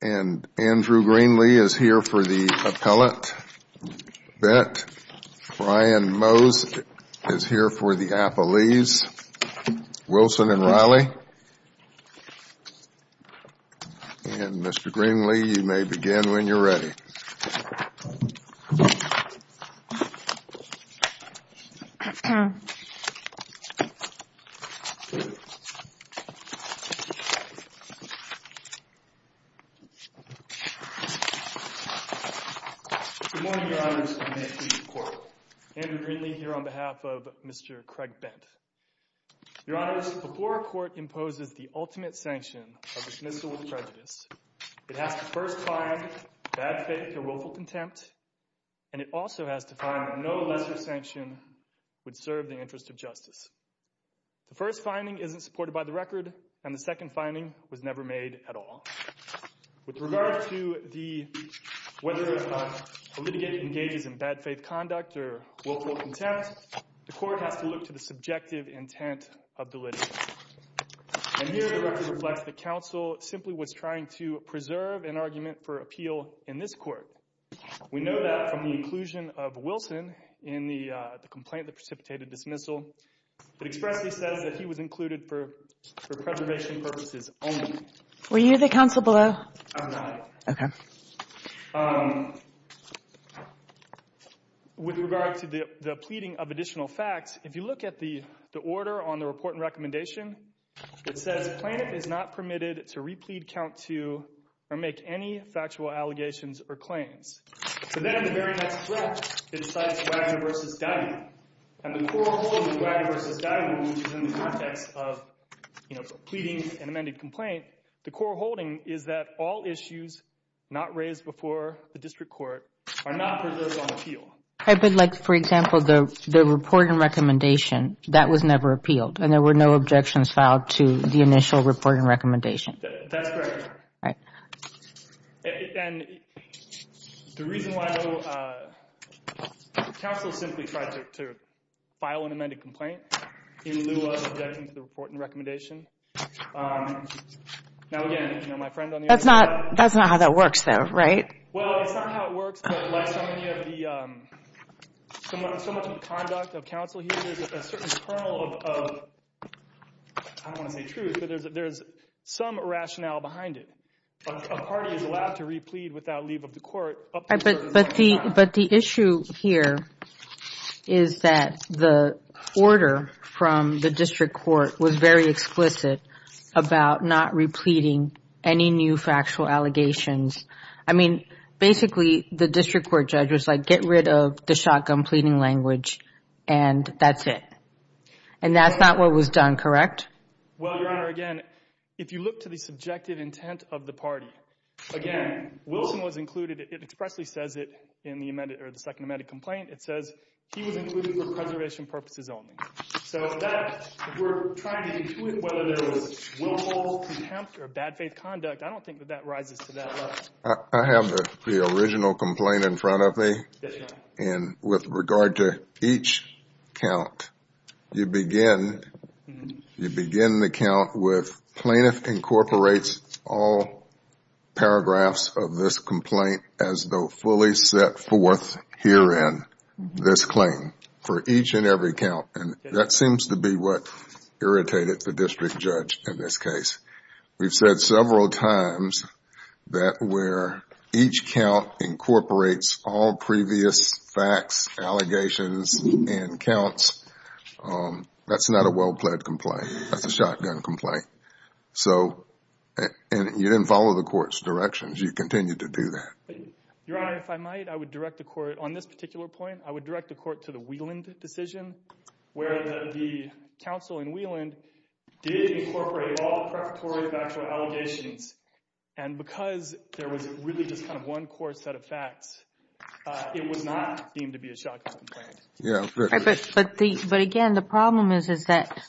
and Andrew Greenlee is here for the appellate bet, Brian Mose is here for the appellees, Wilson and Riley, and Mr. Greenlee, you may begin when you're ready. Good morning, Your Honors, and may it please the Court. Andrew Greenlee here on behalf of Mr. Craig Bent. Your Honors, before a court imposes the ultimate sanction of dismissal of prejudice, it has to first find bad faith or willful contempt, and it also has to find that no lesser sanction would serve the interest of justice. The first finding isn't supported by the record, and the second finding was never made at all. With regard to whether a litigant engages in bad faith conduct or willful contempt, the Court has to look to the subjective intent of the litigant. And here the record reflects that counsel simply was trying to preserve an argument for appeal in this Court. We know that from the inclusion of Wilson in the complaint, the precipitated dismissal, that expressly says that he was included for preservation purposes only. Were you the counsel below? I was the litigant. Okay. With regard to the pleading of additional facts, if you look at the order on the report and recommendation, it says plaintiff is not permitted to replead count to or make any factual allegations or claims. So then in the very next step, it cites Wagner v. Dyman. And the core holding of Wagner v. Dyman, which is in the context of, you know, the pleading and amended complaint, the core holding is that all issues not raised before the District Court are not preserved on appeal. But like, for example, the report and recommendation, that was never appealed, and there were no objections filed to the initial report and recommendation. That's correct. And the reason why counsel simply tried to file an amended complaint in lieu of objections to the report and recommendation. Now, again, you know, my friend on the other side... That's not how that works, though, right? Well, it's not how it works, but like so many of the, so much of the conduct of counsel here, there's a certain kernel of, I don't want to say truth, but there's some rationale behind it. A party is allowed to replead without leave of the Court up to a the order from the District Court was very explicit about not repleting any new factual allegations. I mean, basically, the District Court judge was like, get rid of the shotgun pleading language, and that's it. And that's not what was done, correct? Well, Your Honor, again, if you look to the subjective intent of the party, again, Wilson was included, it expressly says it in the second amended complaint. It says he was included for preservation purposes only. So that, if we're trying to intuit whether there was willful contempt or bad faith conduct, I don't think that that rises to that level. I have the original complaint in front of me. Yes, Your Honor. And with regard to each count, you begin the count with plaintiff incorporates all paragraphs of this complaint as though fully set forth herein this claim for each and every count. And that seems to be what irritated the district judge in this case. We've said several times that where each count incorporates all previous facts, allegations, and counts, that's not a well-pled complaint. That's a shotgun complaint. So, and you didn't follow the court's directions. You continued to do that. Your Honor, if I might, I would direct the court, on this particular point, I would direct the court to the Wieland decision, where the counsel in Wieland did incorporate all preparatory factual allegations. And because there was really just kind of one core set of facts, it was not deemed to be a shotgun complaint. But again, the problem is that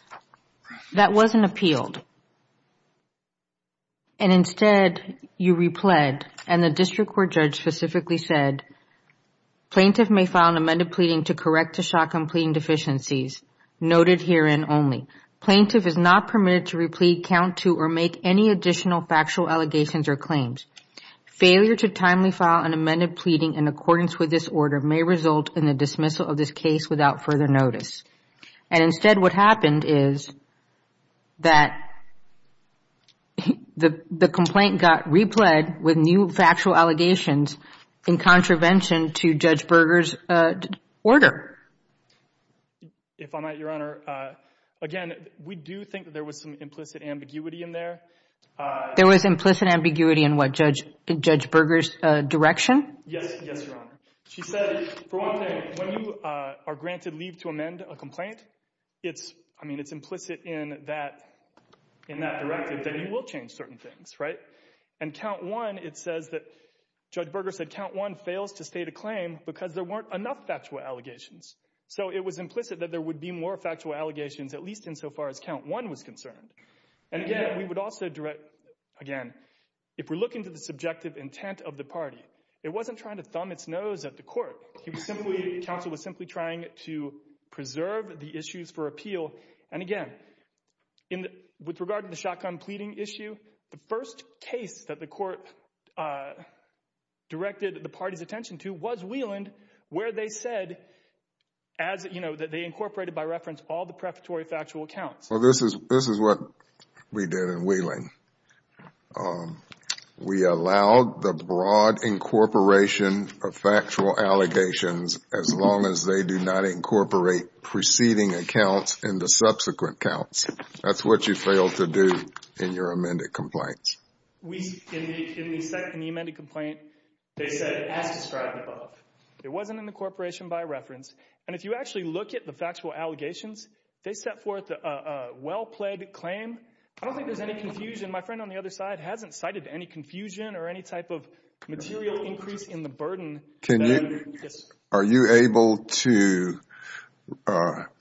that wasn't appealed. And instead, you repled, and the district court judge specifically said, plaintiff may file an amended pleading to correct the shotgun pleading deficiencies noted herein only. Plaintiff is not permitted to replete, count to, or make any additional factual allegations or claims. Failure to timely file an amended pleading in accordance with this order may result in the dismissal of this case without further notice. And instead, what happened is that the complaint got repled with new factual allegations in contravention to Judge Berger's order. If I might, Your Honor, again, we do think that there was some implicit ambiguity in there. There was implicit ambiguity in what, Judge Berger's direction? Yes, Your Honor. She said, for one thing, when you are granted leave to amend a complaint, it's, I mean, it's implicit in that directive that you will change certain things, right? And count one, it says that, Judge Berger said, count one fails to state a claim because there weren't enough factual allegations. So it was implicit that there would be more factual allegations, at least insofar as count one was concerned. And again, we would also direct, again, if we're looking to the subjective intent of the party, it wasn't trying to thumb its nose at the court. He was simply, counsel was simply trying to preserve the issues for appeal. And again, with regard to the shotgun pleading issue, the first case that the court directed the party's attention to was Wieland, where they said, as, you know, that they incorporated by reference all the prefatory factual accounts. Well, this is what we did in Wieland. We allowed the broad incorporation of factual allegations as long as they do not incorporate preceding accounts into subsequent counts. That's what you fail to do in your amended complaints. In the amended complaint, they said, as described above, it wasn't incorporation by reference. And if you actually look at the factual allegations, they set forth a well-played claim. I don't think there's any confusion. My friend on the other side hasn't cited any confusion Are you able to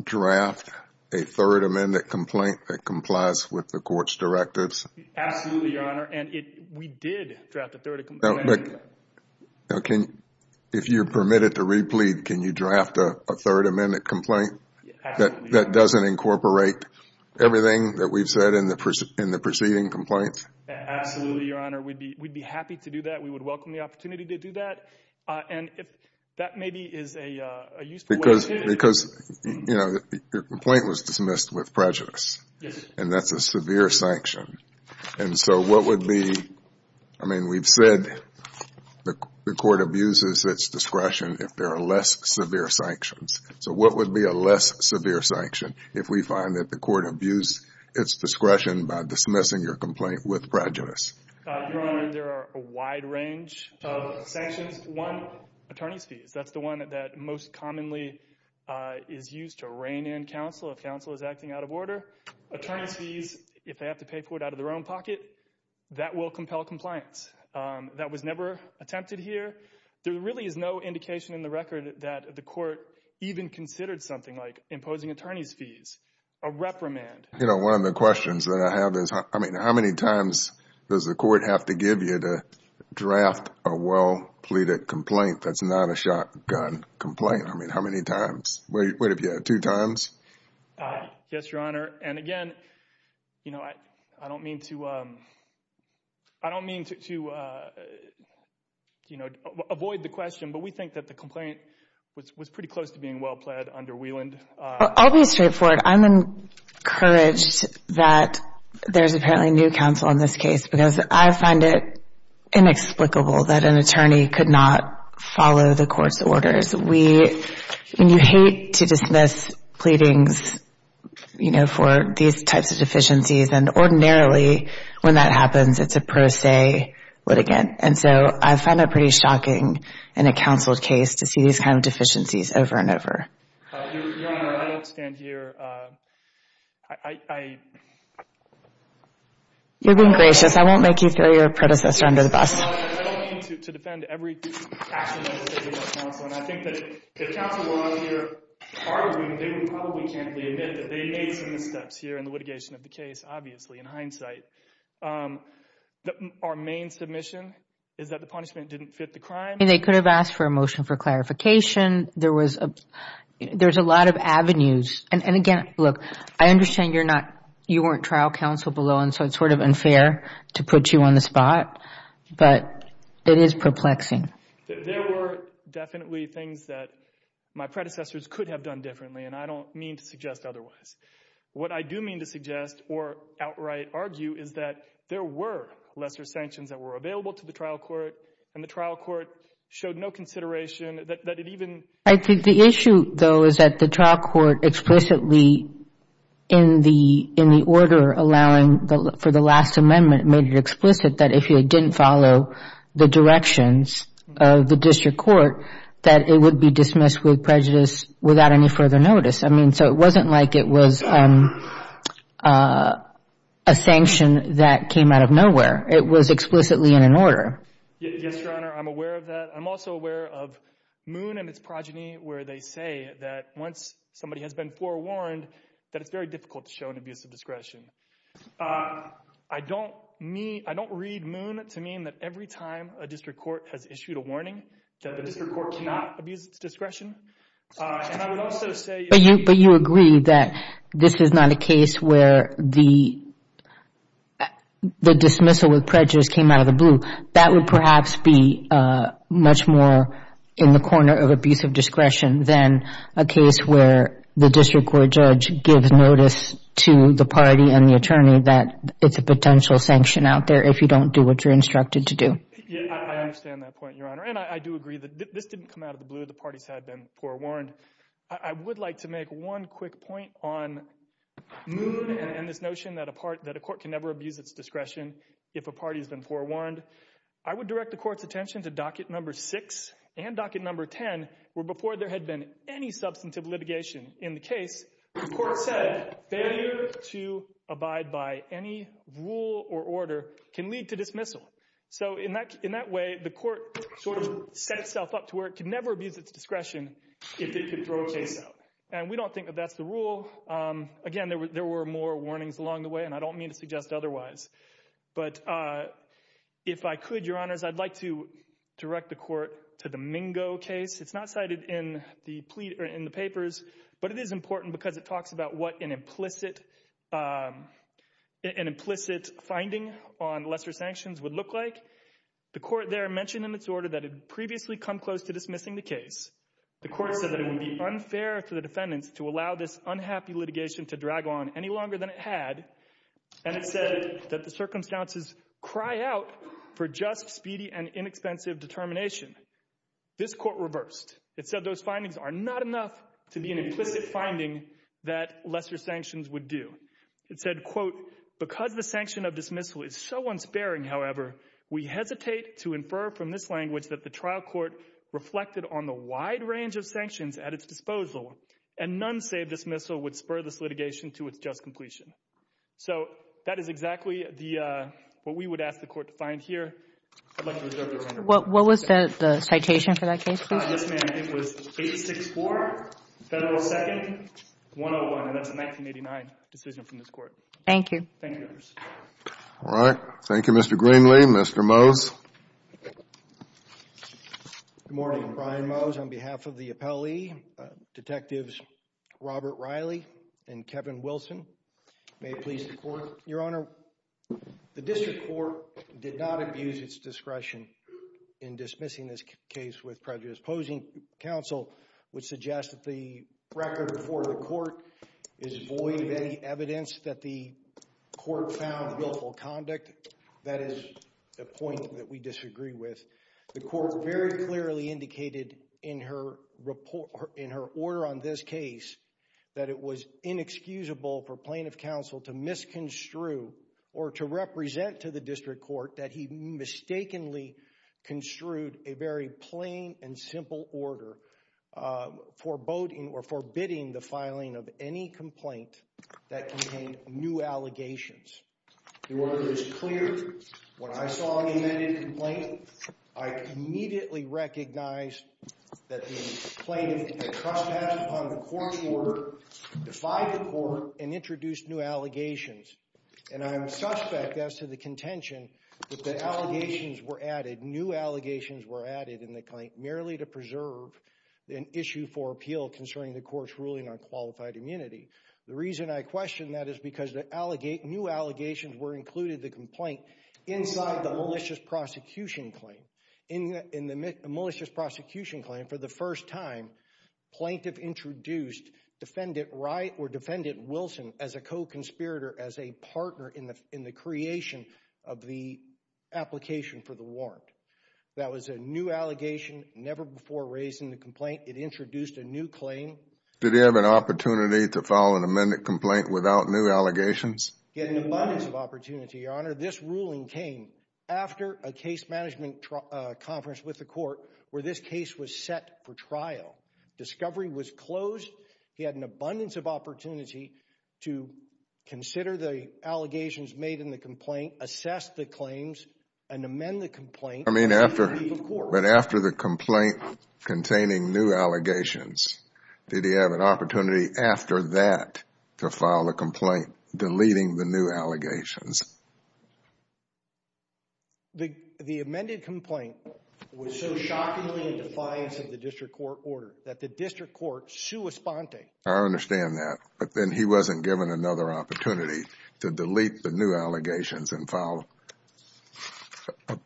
draft a third amended complaint that complies with the court's directives? Absolutely, Your Honor. And we did draft a third amended complaint. If you're permitted to replete, can you draft a third amended complaint that doesn't incorporate everything that we've said in the preceding complaints? Absolutely, Your Honor. We'd be happy to do that. We would welcome the opportunity to do that. And that maybe is a useful way to Because, you know, your complaint was dismissed with prejudice, and that's a severe sanction. And so what would be, I mean, we've said the court abuses its discretion if there are less severe sanctions. So what would be a less severe sanction if we find that the court abused its discretion by dismissing your complaint with prejudice? Your Honor, there are a wide range of sanctions. One, attorney's fees. That's the one that most commonly is used to rein in counsel if counsel is acting out of order. Attorney's fees, if they have to pay for it out of their own pocket, that will compel compliance. That was never attempted here. There really is no indication in the record that the court even considered something like imposing attorney's fees, a reprimand. You know, one of the questions that I have is, I mean, how many times does the court have to give you to draft a well-pleaded complaint that's not a shotgun complaint? I mean, how many times? What have you had, two times? Yes, Your Honor. And again, you know, I don't mean to I don't mean to, you know, avoid the question, but we think that the complaint was pretty close to being well-pled under Wieland. I'll be straightforward. I'm encouraged that there's apparently new counsel in this case because I find it inexplicable that an attorney could not follow the court's orders. We hate to dismiss pleadings, you know, for these types of deficiencies, and ordinarily when that happens, it's a pro se litigant. And so I find it pretty shocking in a counsel's case to see these kinds of deficiencies over and over. Your Honor, I don't stand here. I... You're being gracious. I won't make you throw your predecessor under the bus. I don't mean to defend every action that was taken by counsel, and I think that if counsel were out here arguing, they would probably candidly admit that they made some missteps here in the litigation of the case, obviously, in hindsight. Our main submission is that the punishment didn't fit the crime. I mean, they could have asked for a motion for clarification. There was a... There's a lot of avenues. And again, look, I understand you're not... You weren't trial counsel below, and so it's sort of unfair to put you on the spot, but it is perplexing. There were definitely things that my predecessors could have done differently, and I don't mean to suggest otherwise. What I do mean to suggest or outright argue is that there were lesser sanctions that were available to the trial court, and the trial court showed no consideration that it even... I think the issue, though, is that the trial court explicitly, in the order allowing for the last amendment, made it explicit that if you didn't follow the directions of the district court, that it would be dismissed with prejudice without any further notice. I mean, so it wasn't like it was a sanction that came out of nowhere. It was explicitly in an order. Yes, Your Honor, I'm aware of that. I'm also aware of Moon and its progeny where they say that once somebody has been forewarned that it's very difficult to show an abuse of discretion. I don't read Moon to mean that every time a district court has issued a warning that the district court cannot abuse its discretion. And I would also say... But you agree that this is not a case where the dismissal with prejudice came out of the blue. That would perhaps be much more in the corner of abuse of discretion than a case where the district court judge gives notice to the party and the attorney that it's a potential sanction out there if you don't do what you're instructed to do. I understand that point, Your Honor. And I do agree that this didn't come out of the blue. The parties had been forewarned. I would like to make one quick point on Moon and this notion that a court can never abuse its discretion if a party has been forewarned. I would direct the court's attention to docket number 6 and docket number 10 where before there had been any substantive litigation in the case, the court said failure to abide by any rule or order can lead to dismissal. So in that way, the court sort of set itself up to where it can never abuse its discretion if it could throw a case out. And we don't think that that's the rule. Again, there were more warnings along the way, and I don't mean to suggest otherwise. But if I could, Your Honors, I'd like to direct the court to the Mingo case. It's not cited in the papers, but it is important because it talks about what an implicit finding on lesser sanctions would look like. The court there mentioned in its order that it had previously come close to dismissing the case. The court said that it would be unfair to the defendants to allow this unhappy litigation to drag on any longer than it had, and it said that the circumstances cry out for just, speedy, and inexpensive determination. This court reversed. It said those findings are not enough to be an implicit finding that lesser sanctions would do. It said, quote, because the sanction of dismissal is so unsparing, however, we hesitate to infer from this language that the trial court reflected on the wide range of sanctions at its disposal, and none save dismissal would spur this litigation to its just completion. So that is exactly what we would ask the court to find here. I'd like to reserve Your Honor's time. What was the citation for that case, please? What this man did was 864 Federal 2nd 101, and that's a 1989 decision from this court. Thank you. Thank you, Your Honor. All right. Thank you, Mr. Greenlee. Mr. Mose. Good morning. Brian Mose on behalf of the appellee, Detectives Robert Riley and Kevin Wilson. May it please the Court. Your Honor, the district court did not abuse its discretion in dismissing this case with prejudice posing. Counsel would suggest that the record before the court is void of any evidence that the court found guiltful conduct. That is a point that we disagree with. The court very clearly indicated in her order on this case that it was inexcusable for plaintiff counsel to misconstrue or to represent to the district court that he mistakenly construed a very plain and simple order forbidding the filing of any complaint that contained new allegations. The order is clear. When I saw the amended complaint, I immediately recognized that the plaintiff had trespassed upon the court's order, defied the court, and introduced new allegations. And I am suspect as to the contention that the allegations were added, new allegations were added in the complaint, merely to preserve an issue for appeal concerning the court's ruling on qualified immunity. The reason I question that is because new allegations were included in the complaint inside the malicious prosecution claim. In the malicious prosecution claim, for the first time, plaintiff introduced defendant Wright or defendant Wilson as a co-conspirator, as a partner in the creation of the application for the warrant. That was a new allegation never before raised in the complaint. It introduced a new claim. Did he have an opportunity to file an amended complaint without new allegations? He had an abundance of opportunity, Your Honor. This ruling came after a case management conference with the court where this case was set for trial. Discovery was closed. He had an abundance of opportunity to consider the allegations made in the complaint, assess the claims, and amend the complaint. But after the complaint containing new allegations, did he have an opportunity after that to file a complaint deleting the new allegations? The amended complaint was so shockingly in defiance of the district court order that the district court sue Esponte. I understand that. But then he wasn't given another opportunity to delete the new allegations and file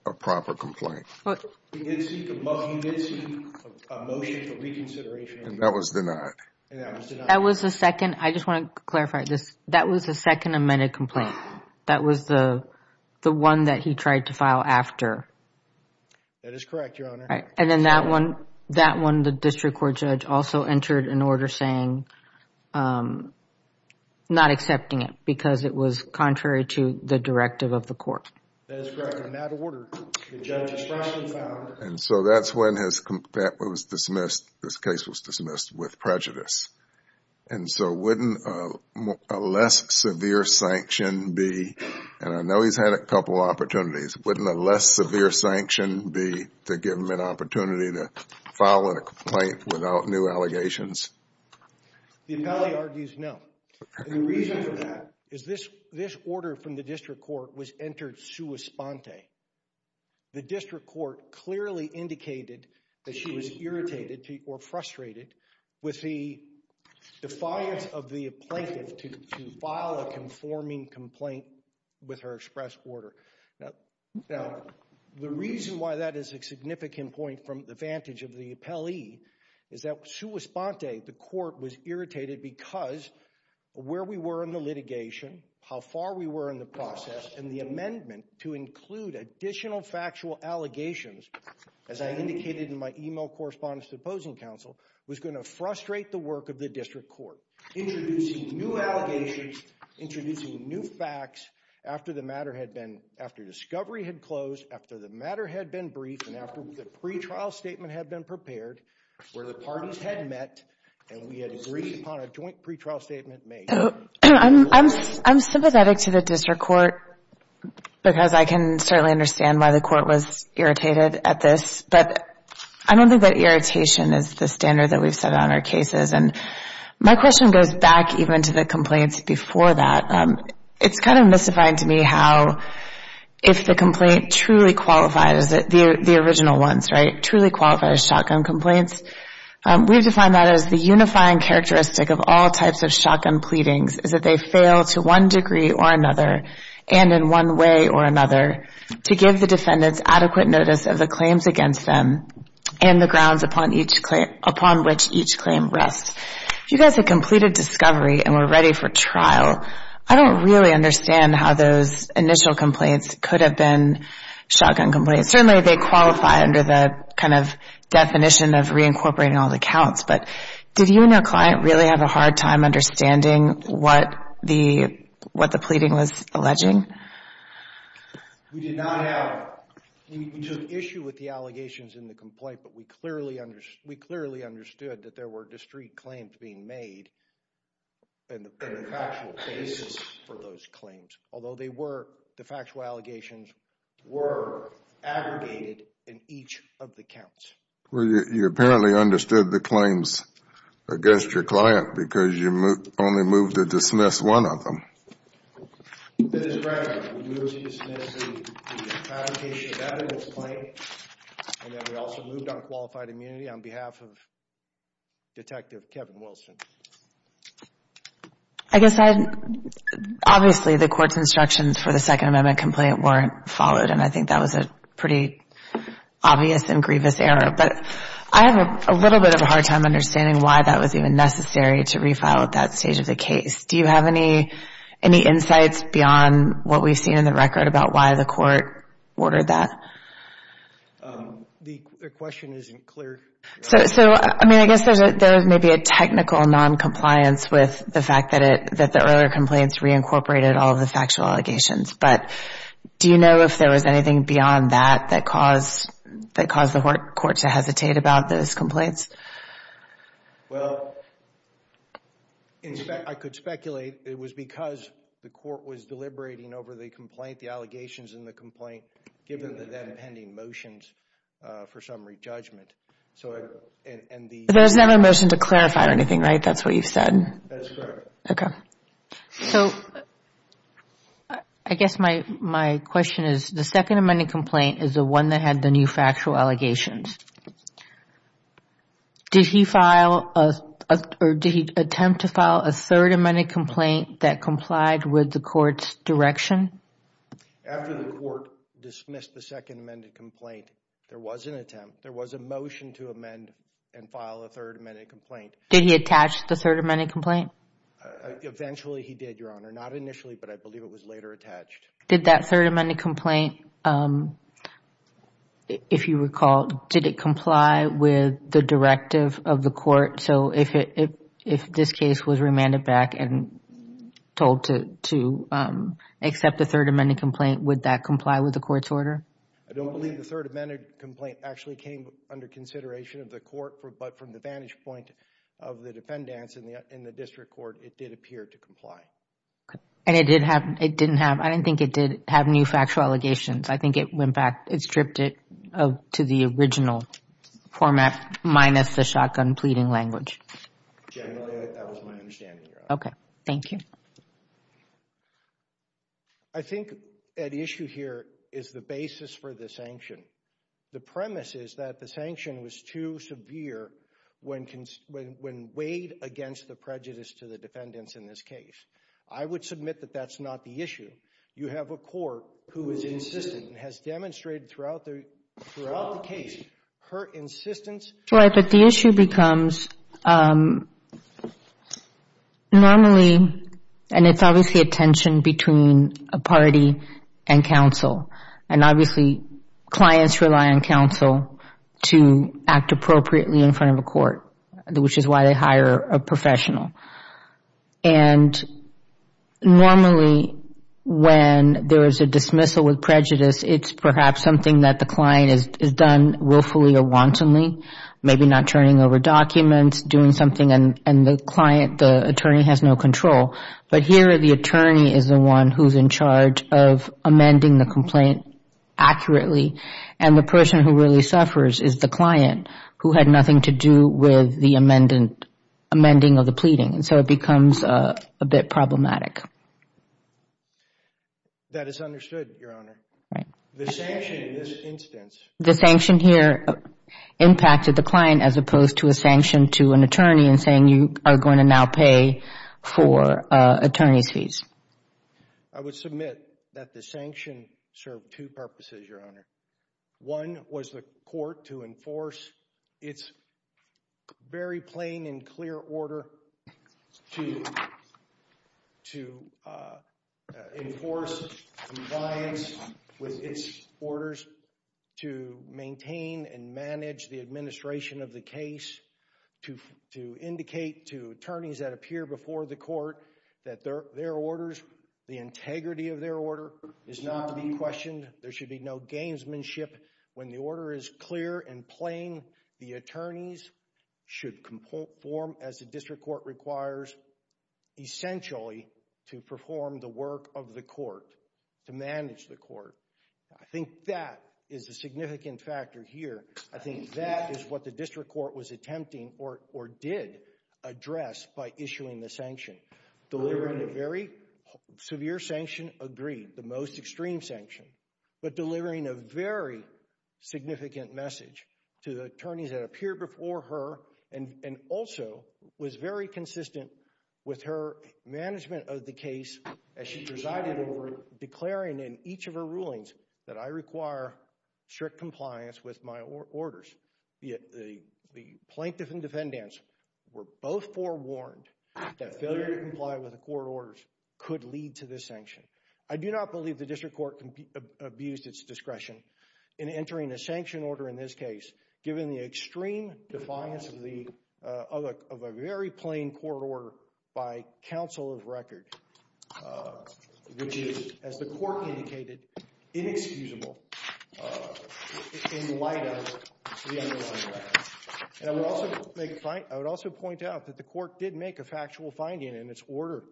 a proper complaint. He did seek a motion for reconsideration. And that was denied. And that was denied. That was the second. I just want to clarify this. That was the second amended complaint. That was the one that he tried to file after. That is correct, Your Honor. And then that one, the district court judge also entered an order saying not accepting it because it was contrary to the directive of the court. That is correct. And that order, the judge has tried to file. And so that's when this case was dismissed with prejudice. And so wouldn't a less severe sanction be, and I know he's had a couple of opportunities, wouldn't a less severe sanction be to give him an opportunity to file a complaint without new allegations? The appellee argues no. And the reason for that is this order from the district court was entered sue Esponte. The district court clearly indicated that she was irritated or frustrated with the defiance of the plaintiff to file a conforming complaint with her express order. Now, the reason why that is a significant point from the vantage of the appellee is that sue Esponte, the court, was irritated because where we were in the litigation, how far we were in the process, and the amendment to include additional factual allegations, as I indicated in my e-mail correspondence to the opposing counsel, was going to frustrate the work of the district court, introducing new allegations, introducing new facts after the matter had been, after discovery had closed, after the matter had been briefed, and after the pretrial statement had been prepared, where the parties had met and we had agreed upon a joint pretrial statement made. I'm sympathetic to the district court because I can certainly understand why the court was irritated at this, but I don't think that irritation is the standard that we've set on our cases. And my question goes back even to the complaints before that. It's kind of mystifying to me how if the complaint truly qualified as the original ones, right, truly qualified as shotgun complaints, we've defined that as the unifying characteristic of all types of shotgun pleadings is that they fail to one degree or another and in one way or another to give the defendants adequate notice of the claims against them and the grounds upon which each claim rests. If you guys had completed discovery and were ready for trial, I don't really understand how those initial complaints could have been shotgun complaints. Certainly they qualify under the kind of definition of reincorporating all the counts, but did you and your client really have a hard time understanding what the pleading was alleging? We did not have. We took issue with the allegations in the complaint, but we clearly understood that there were district claims being made and the factual basis for those claims, although they were, the factual allegations were aggregated in each of the counts. Well, you apparently understood the claims against your client because you only moved to dismiss one of them. Mr. Brown, we moved to dismiss the fabrication of evidence claim and then we also moved on qualified immunity on behalf of Detective Kevin Wilson. I guess I, obviously the court's instructions for the Second Amendment complaint weren't followed and I think that was a pretty obvious and grievous error. But I have a little bit of a hard time understanding why that was even necessary to refile at that stage of the case. Do you have any insights beyond what we've seen in the record about why the court ordered that? The question isn't clear. So, I mean, I guess there was maybe a technical noncompliance with the fact that it, that the earlier complaints reincorporated all of the factual allegations. But do you know if there was anything beyond that that caused the court to hesitate about those complaints? Well, I could speculate it was because the court was deliberating over the complaint, the allegations in the complaint, given the then pending motions for summary judgment. So, and the— But there was never a motion to clarify or anything, right? That's what you've said. That is correct. Okay. So, I guess my question is the Second Amendment complaint is the one that had the new factual allegations. Did he file a, or did he attempt to file a Third Amendment complaint that complied with the court's direction? After the court dismissed the Second Amendment complaint, there was an attempt. There was a motion to amend and file a Third Amendment complaint. Did he attach the Third Amendment complaint? Eventually he did, Your Honor. Not initially, but I believe it was later attached. Did that Third Amendment complaint, if you recall, did it comply with the directive of the court? So, if this case was remanded back and told to accept the Third Amendment complaint, would that comply with the court's order? I don't believe the Third Amendment complaint actually came under consideration of the court, but from the vantage point of the defendants in the district court, it did appear to comply. And it didn't have, I didn't think it did have new factual allegations. I think it went back, it stripped it to the original format, minus the shotgun pleading language. Generally, that was my understanding, Your Honor. Okay. Thank you. I think at issue here is the basis for the sanction. The premise is that the sanction was too severe when weighed against the prejudice to the defendants in this case. I would submit that that's not the issue. You have a court who is insistent and has demonstrated throughout the case her insistence Right, but the issue becomes normally, and it's obviously a tension between a party and counsel, and obviously clients rely on counsel to act appropriately in front of a court, which is why they hire a professional. And normally when there is a dismissal with prejudice, it's perhaps something that the client has done willfully or wantonly, maybe not turning over documents, doing something, and the client, the attorney has no control. But here the attorney is the one who's in charge of amending the complaint accurately, and the person who really suffers is the client, who had nothing to do with the amending of the pleading. And so it becomes a bit problematic. That is understood, Your Honor. The sanction in this instance The sanction here impacted the client as opposed to a sanction to an attorney and saying you are going to now pay for attorney's fees. I would submit that the sanction served two purposes, Your Honor. One was the court to enforce its very plain and clear order to enforce compliance with its orders, to maintain and manage the administration of the case, to indicate to attorneys that appear before the court that their orders, the integrity of their order is not to be questioned. There should be no gamesmanship. When the order is clear and plain, the attorneys should conform as the district court requires, I think that is a significant factor here. I think that is what the district court was attempting or did address by issuing the sanction. Delivering a very severe sanction, agreed, the most extreme sanction, but delivering a very significant message to the attorneys that appear before her and also was very consistent with her management of the case as she presided over declaring in each of her rulings that I require strict compliance with my orders. The plaintiff and defendants were both forewarned that failure to comply with the court orders could lead to this sanction. I do not believe the district court abused its discretion in entering a sanction order in this case given the extreme defiance of a very plain court order by counsel of record, which is, as the court indicated, inexcusable in light of the underlying facts. I would also point out that the court did make a factual finding in its order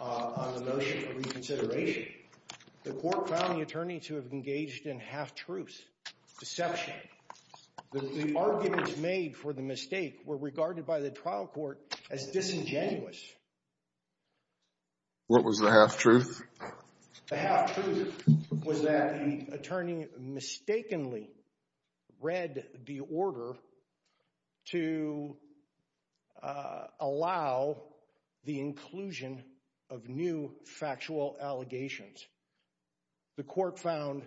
on the notion of reconsideration. The court found the attorney to have engaged in half-truths, deception. The arguments made for the mistake were regarded by the trial court as disingenuous. What was the half-truth? The half-truth was that the attorney mistakenly read the order to allow the inclusion of new factual allegations. The court found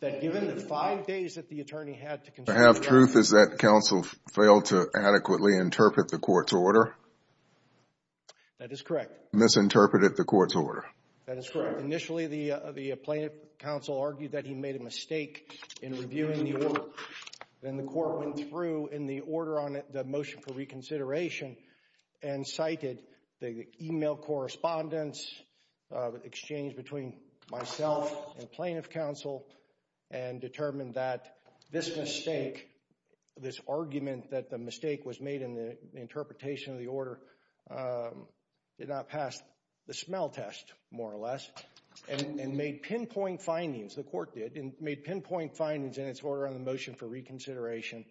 that given the five days that the attorney had to consult with the defendant The half-truth is that counsel failed to adequately interpret the court's order? That is correct. Misinterpreted the court's order. That is correct. Initially, the plaintiff counsel argued that he made a mistake in reviewing the order. Then the court went through in the order on the motion for reconsideration and cited the email correspondence, the exchange between myself and plaintiff counsel, and determined that this mistake, this argument that the mistake was made in the interpretation of the order, did not pass the smell test, more or less, and made pinpoint findings, the court did, and made pinpoint findings in its order on the motion for reconsideration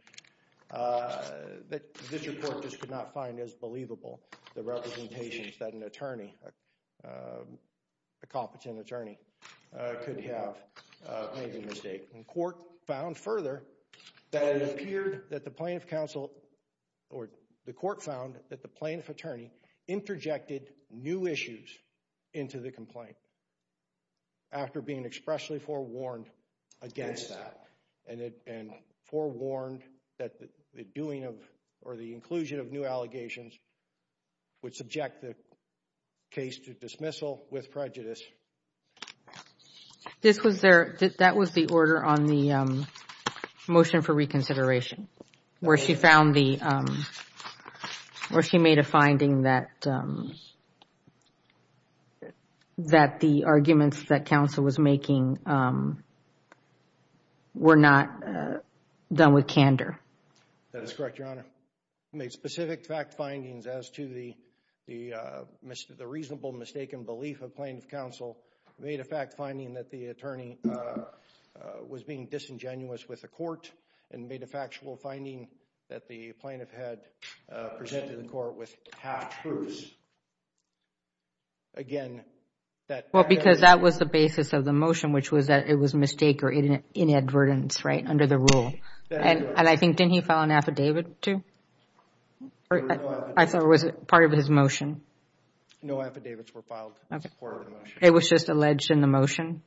that this report just could not find as believable, the representations that an attorney, a competent attorney, could have made the mistake. The court found further that it appeared that the plaintiff counsel, or the court found that the plaintiff attorney, interjected new issues into the complaint after being expressly forewarned against that and forewarned that the doing or the inclusion of new allegations would subject the case to dismissal with prejudice. That was the order on the motion for reconsideration where she made a finding that the arguments that counsel was making were not done with candor. That is correct, Your Honor. Made specific fact findings as to the reasonable, mistaken belief of plaintiff counsel. Made a fact finding that the attorney was being disingenuous with the court and made a factual finding that the plaintiff had presented the court with half-truths. Because that was the basis of the motion, which was that it was a mistake or inadvertence under the rule. And I think, didn't he file an affidavit too? I thought it was part of his motion. No affidavits were filed as part of the motion. It was just alleged in the motion?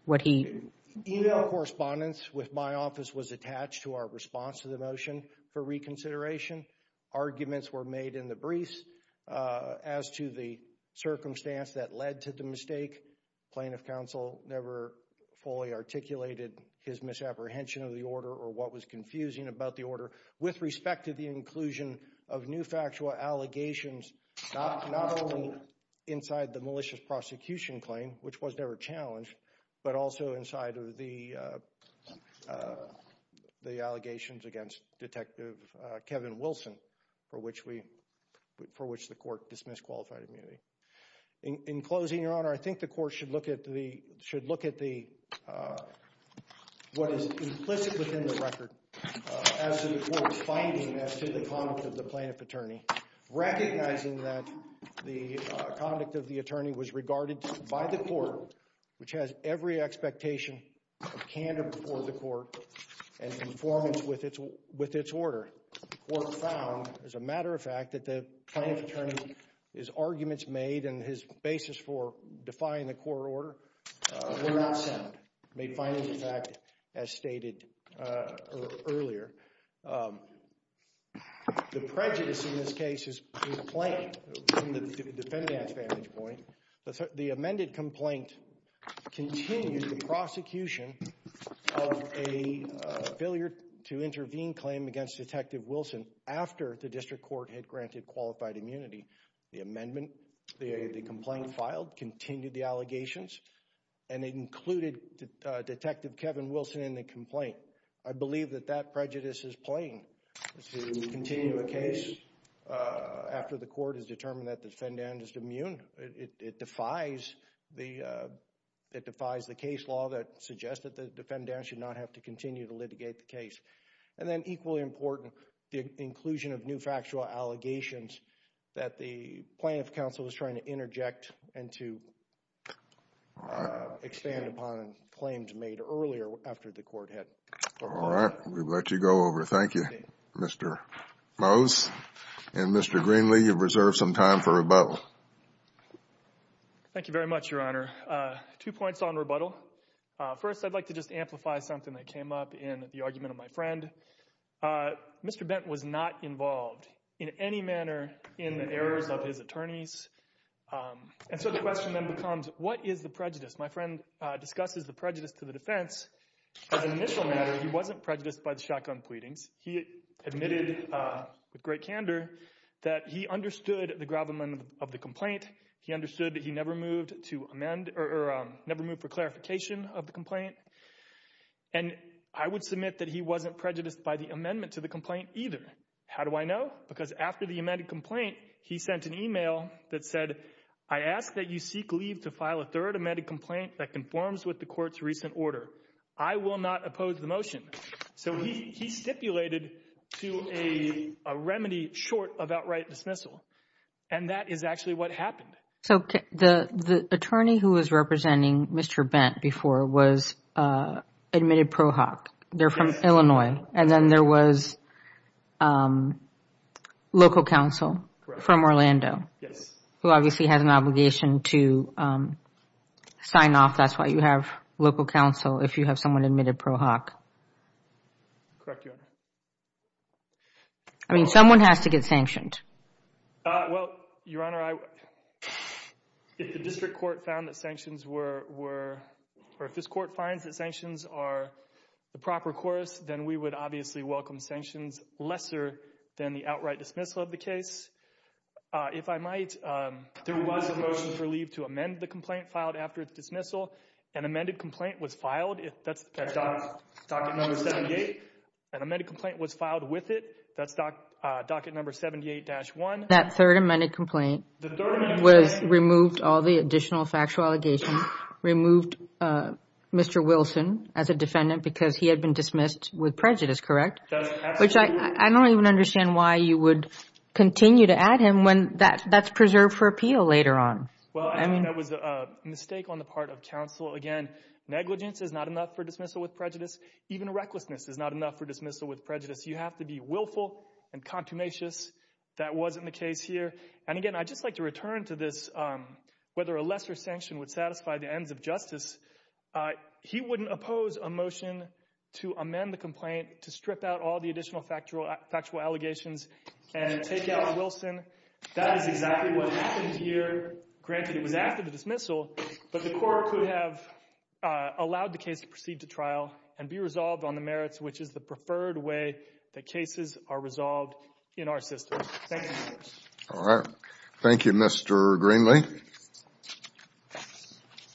Email correspondence with my office was attached to our response to the motion for reconsideration. Arguments were made in the briefs as to the circumstance that led to the mistake. Plaintiff counsel never fully articulated his misapprehension of the order or what was confusing about the order with respect to the inclusion of new factual allegations not only inside the malicious prosecution claim, which was never challenged, but also inside of the allegations against Detective Kevin Wilson for which the court dismissed qualified immunity. In closing, Your Honor, I think the court should look at what is implicit within the record as to the court's finding as to the conduct of the plaintiff attorney, recognizing that the conduct of the attorney was regarded by the court, which has every expectation of candor before the court and conformance with its order. The court found, as a matter of fact, that the plaintiff attorney's arguments made and his basis for defying the court order were not sound, made fine as a fact as stated earlier. The prejudice in this case is plain from the defendant's vantage point. The amended complaint continued the prosecution of a failure to intervene claim against Detective Wilson after the district court had granted qualified immunity. The amendment, the complaint filed, continued the allegations, and it included Detective Kevin Wilson in the complaint. I believe that that prejudice is plain. To continue a case after the court has determined that the defendant is immune, it defies the case law that suggests that the defendant should not have to continue to litigate the case. And then equally important, the inclusion of new factual allegations that the plaintiff counsel was trying to interject and to expand upon claims made earlier after the court had. All right. We'll let you go over. Thank you, Mr. Mose. And Mr. Greenlee, you've reserved some time for rebuttal. Thank you very much, Your Honor. Two points on rebuttal. First, I'd like to just amplify something that came up in the argument of my friend. Mr. Bent was not involved in any manner in the errors of his attorneys. And so the question then becomes, what is the prejudice? My friend discusses the prejudice to the defense. As an initial matter, he wasn't prejudiced by the shotgun pleadings. He admitted with great candor that he understood the gravamen of the complaint. He understood that he never moved for clarification of the complaint. And I would submit that he wasn't prejudiced by the amendment to the complaint either. How do I know? Because after the amended complaint, he sent an email that said, I ask that you seek leave to file a third amended complaint that conforms with the court's recent order. I will not oppose the motion. So he stipulated to a remedy short of outright dismissal. And that is actually what happened. So the attorney who was representing Mr. Bent before was admitted pro hoc. They're from Illinois. And then there was local counsel from Orlando who obviously has an obligation to sign off. That's why you have local counsel if you have someone admitted pro hoc. Correct, Your Honor. I mean, someone has to get sanctioned. Well, Your Honor, if the district court found that sanctions were, or if this court finds that sanctions are the proper course, then we would obviously welcome sanctions lesser than the outright dismissal of the case. If I might, there was a motion for leave to amend the complaint filed after its dismissal. An amended complaint was filed. That's docket number 78. An amended complaint was filed with it. That's docket number 78-1. That third amended complaint was removed, all the additional factual allegations, removed Mr. Wilson as a defendant because he had been dismissed with prejudice, correct? That's absolutely correct. Which I don't even understand why you would continue to add him when that's preserved for appeal later on. That was a mistake on the part of counsel. Again, negligence is not enough for dismissal with prejudice. Even recklessness is not enough for dismissal with prejudice. You have to be willful and contumacious. That wasn't the case here. And, again, I'd just like to return to this, whether a lesser sanction would satisfy the ends of justice. He wouldn't oppose a motion to amend the complaint to strip out all the additional factual allegations and take out Wilson. That is exactly what happened here. Granted, it was after the dismissal, but the court could have allowed the case to proceed to trial and be resolved on the merits, which is the preferred way that cases are resolved in our system. Thank you. All right. Thank you, Mr. Greenlee.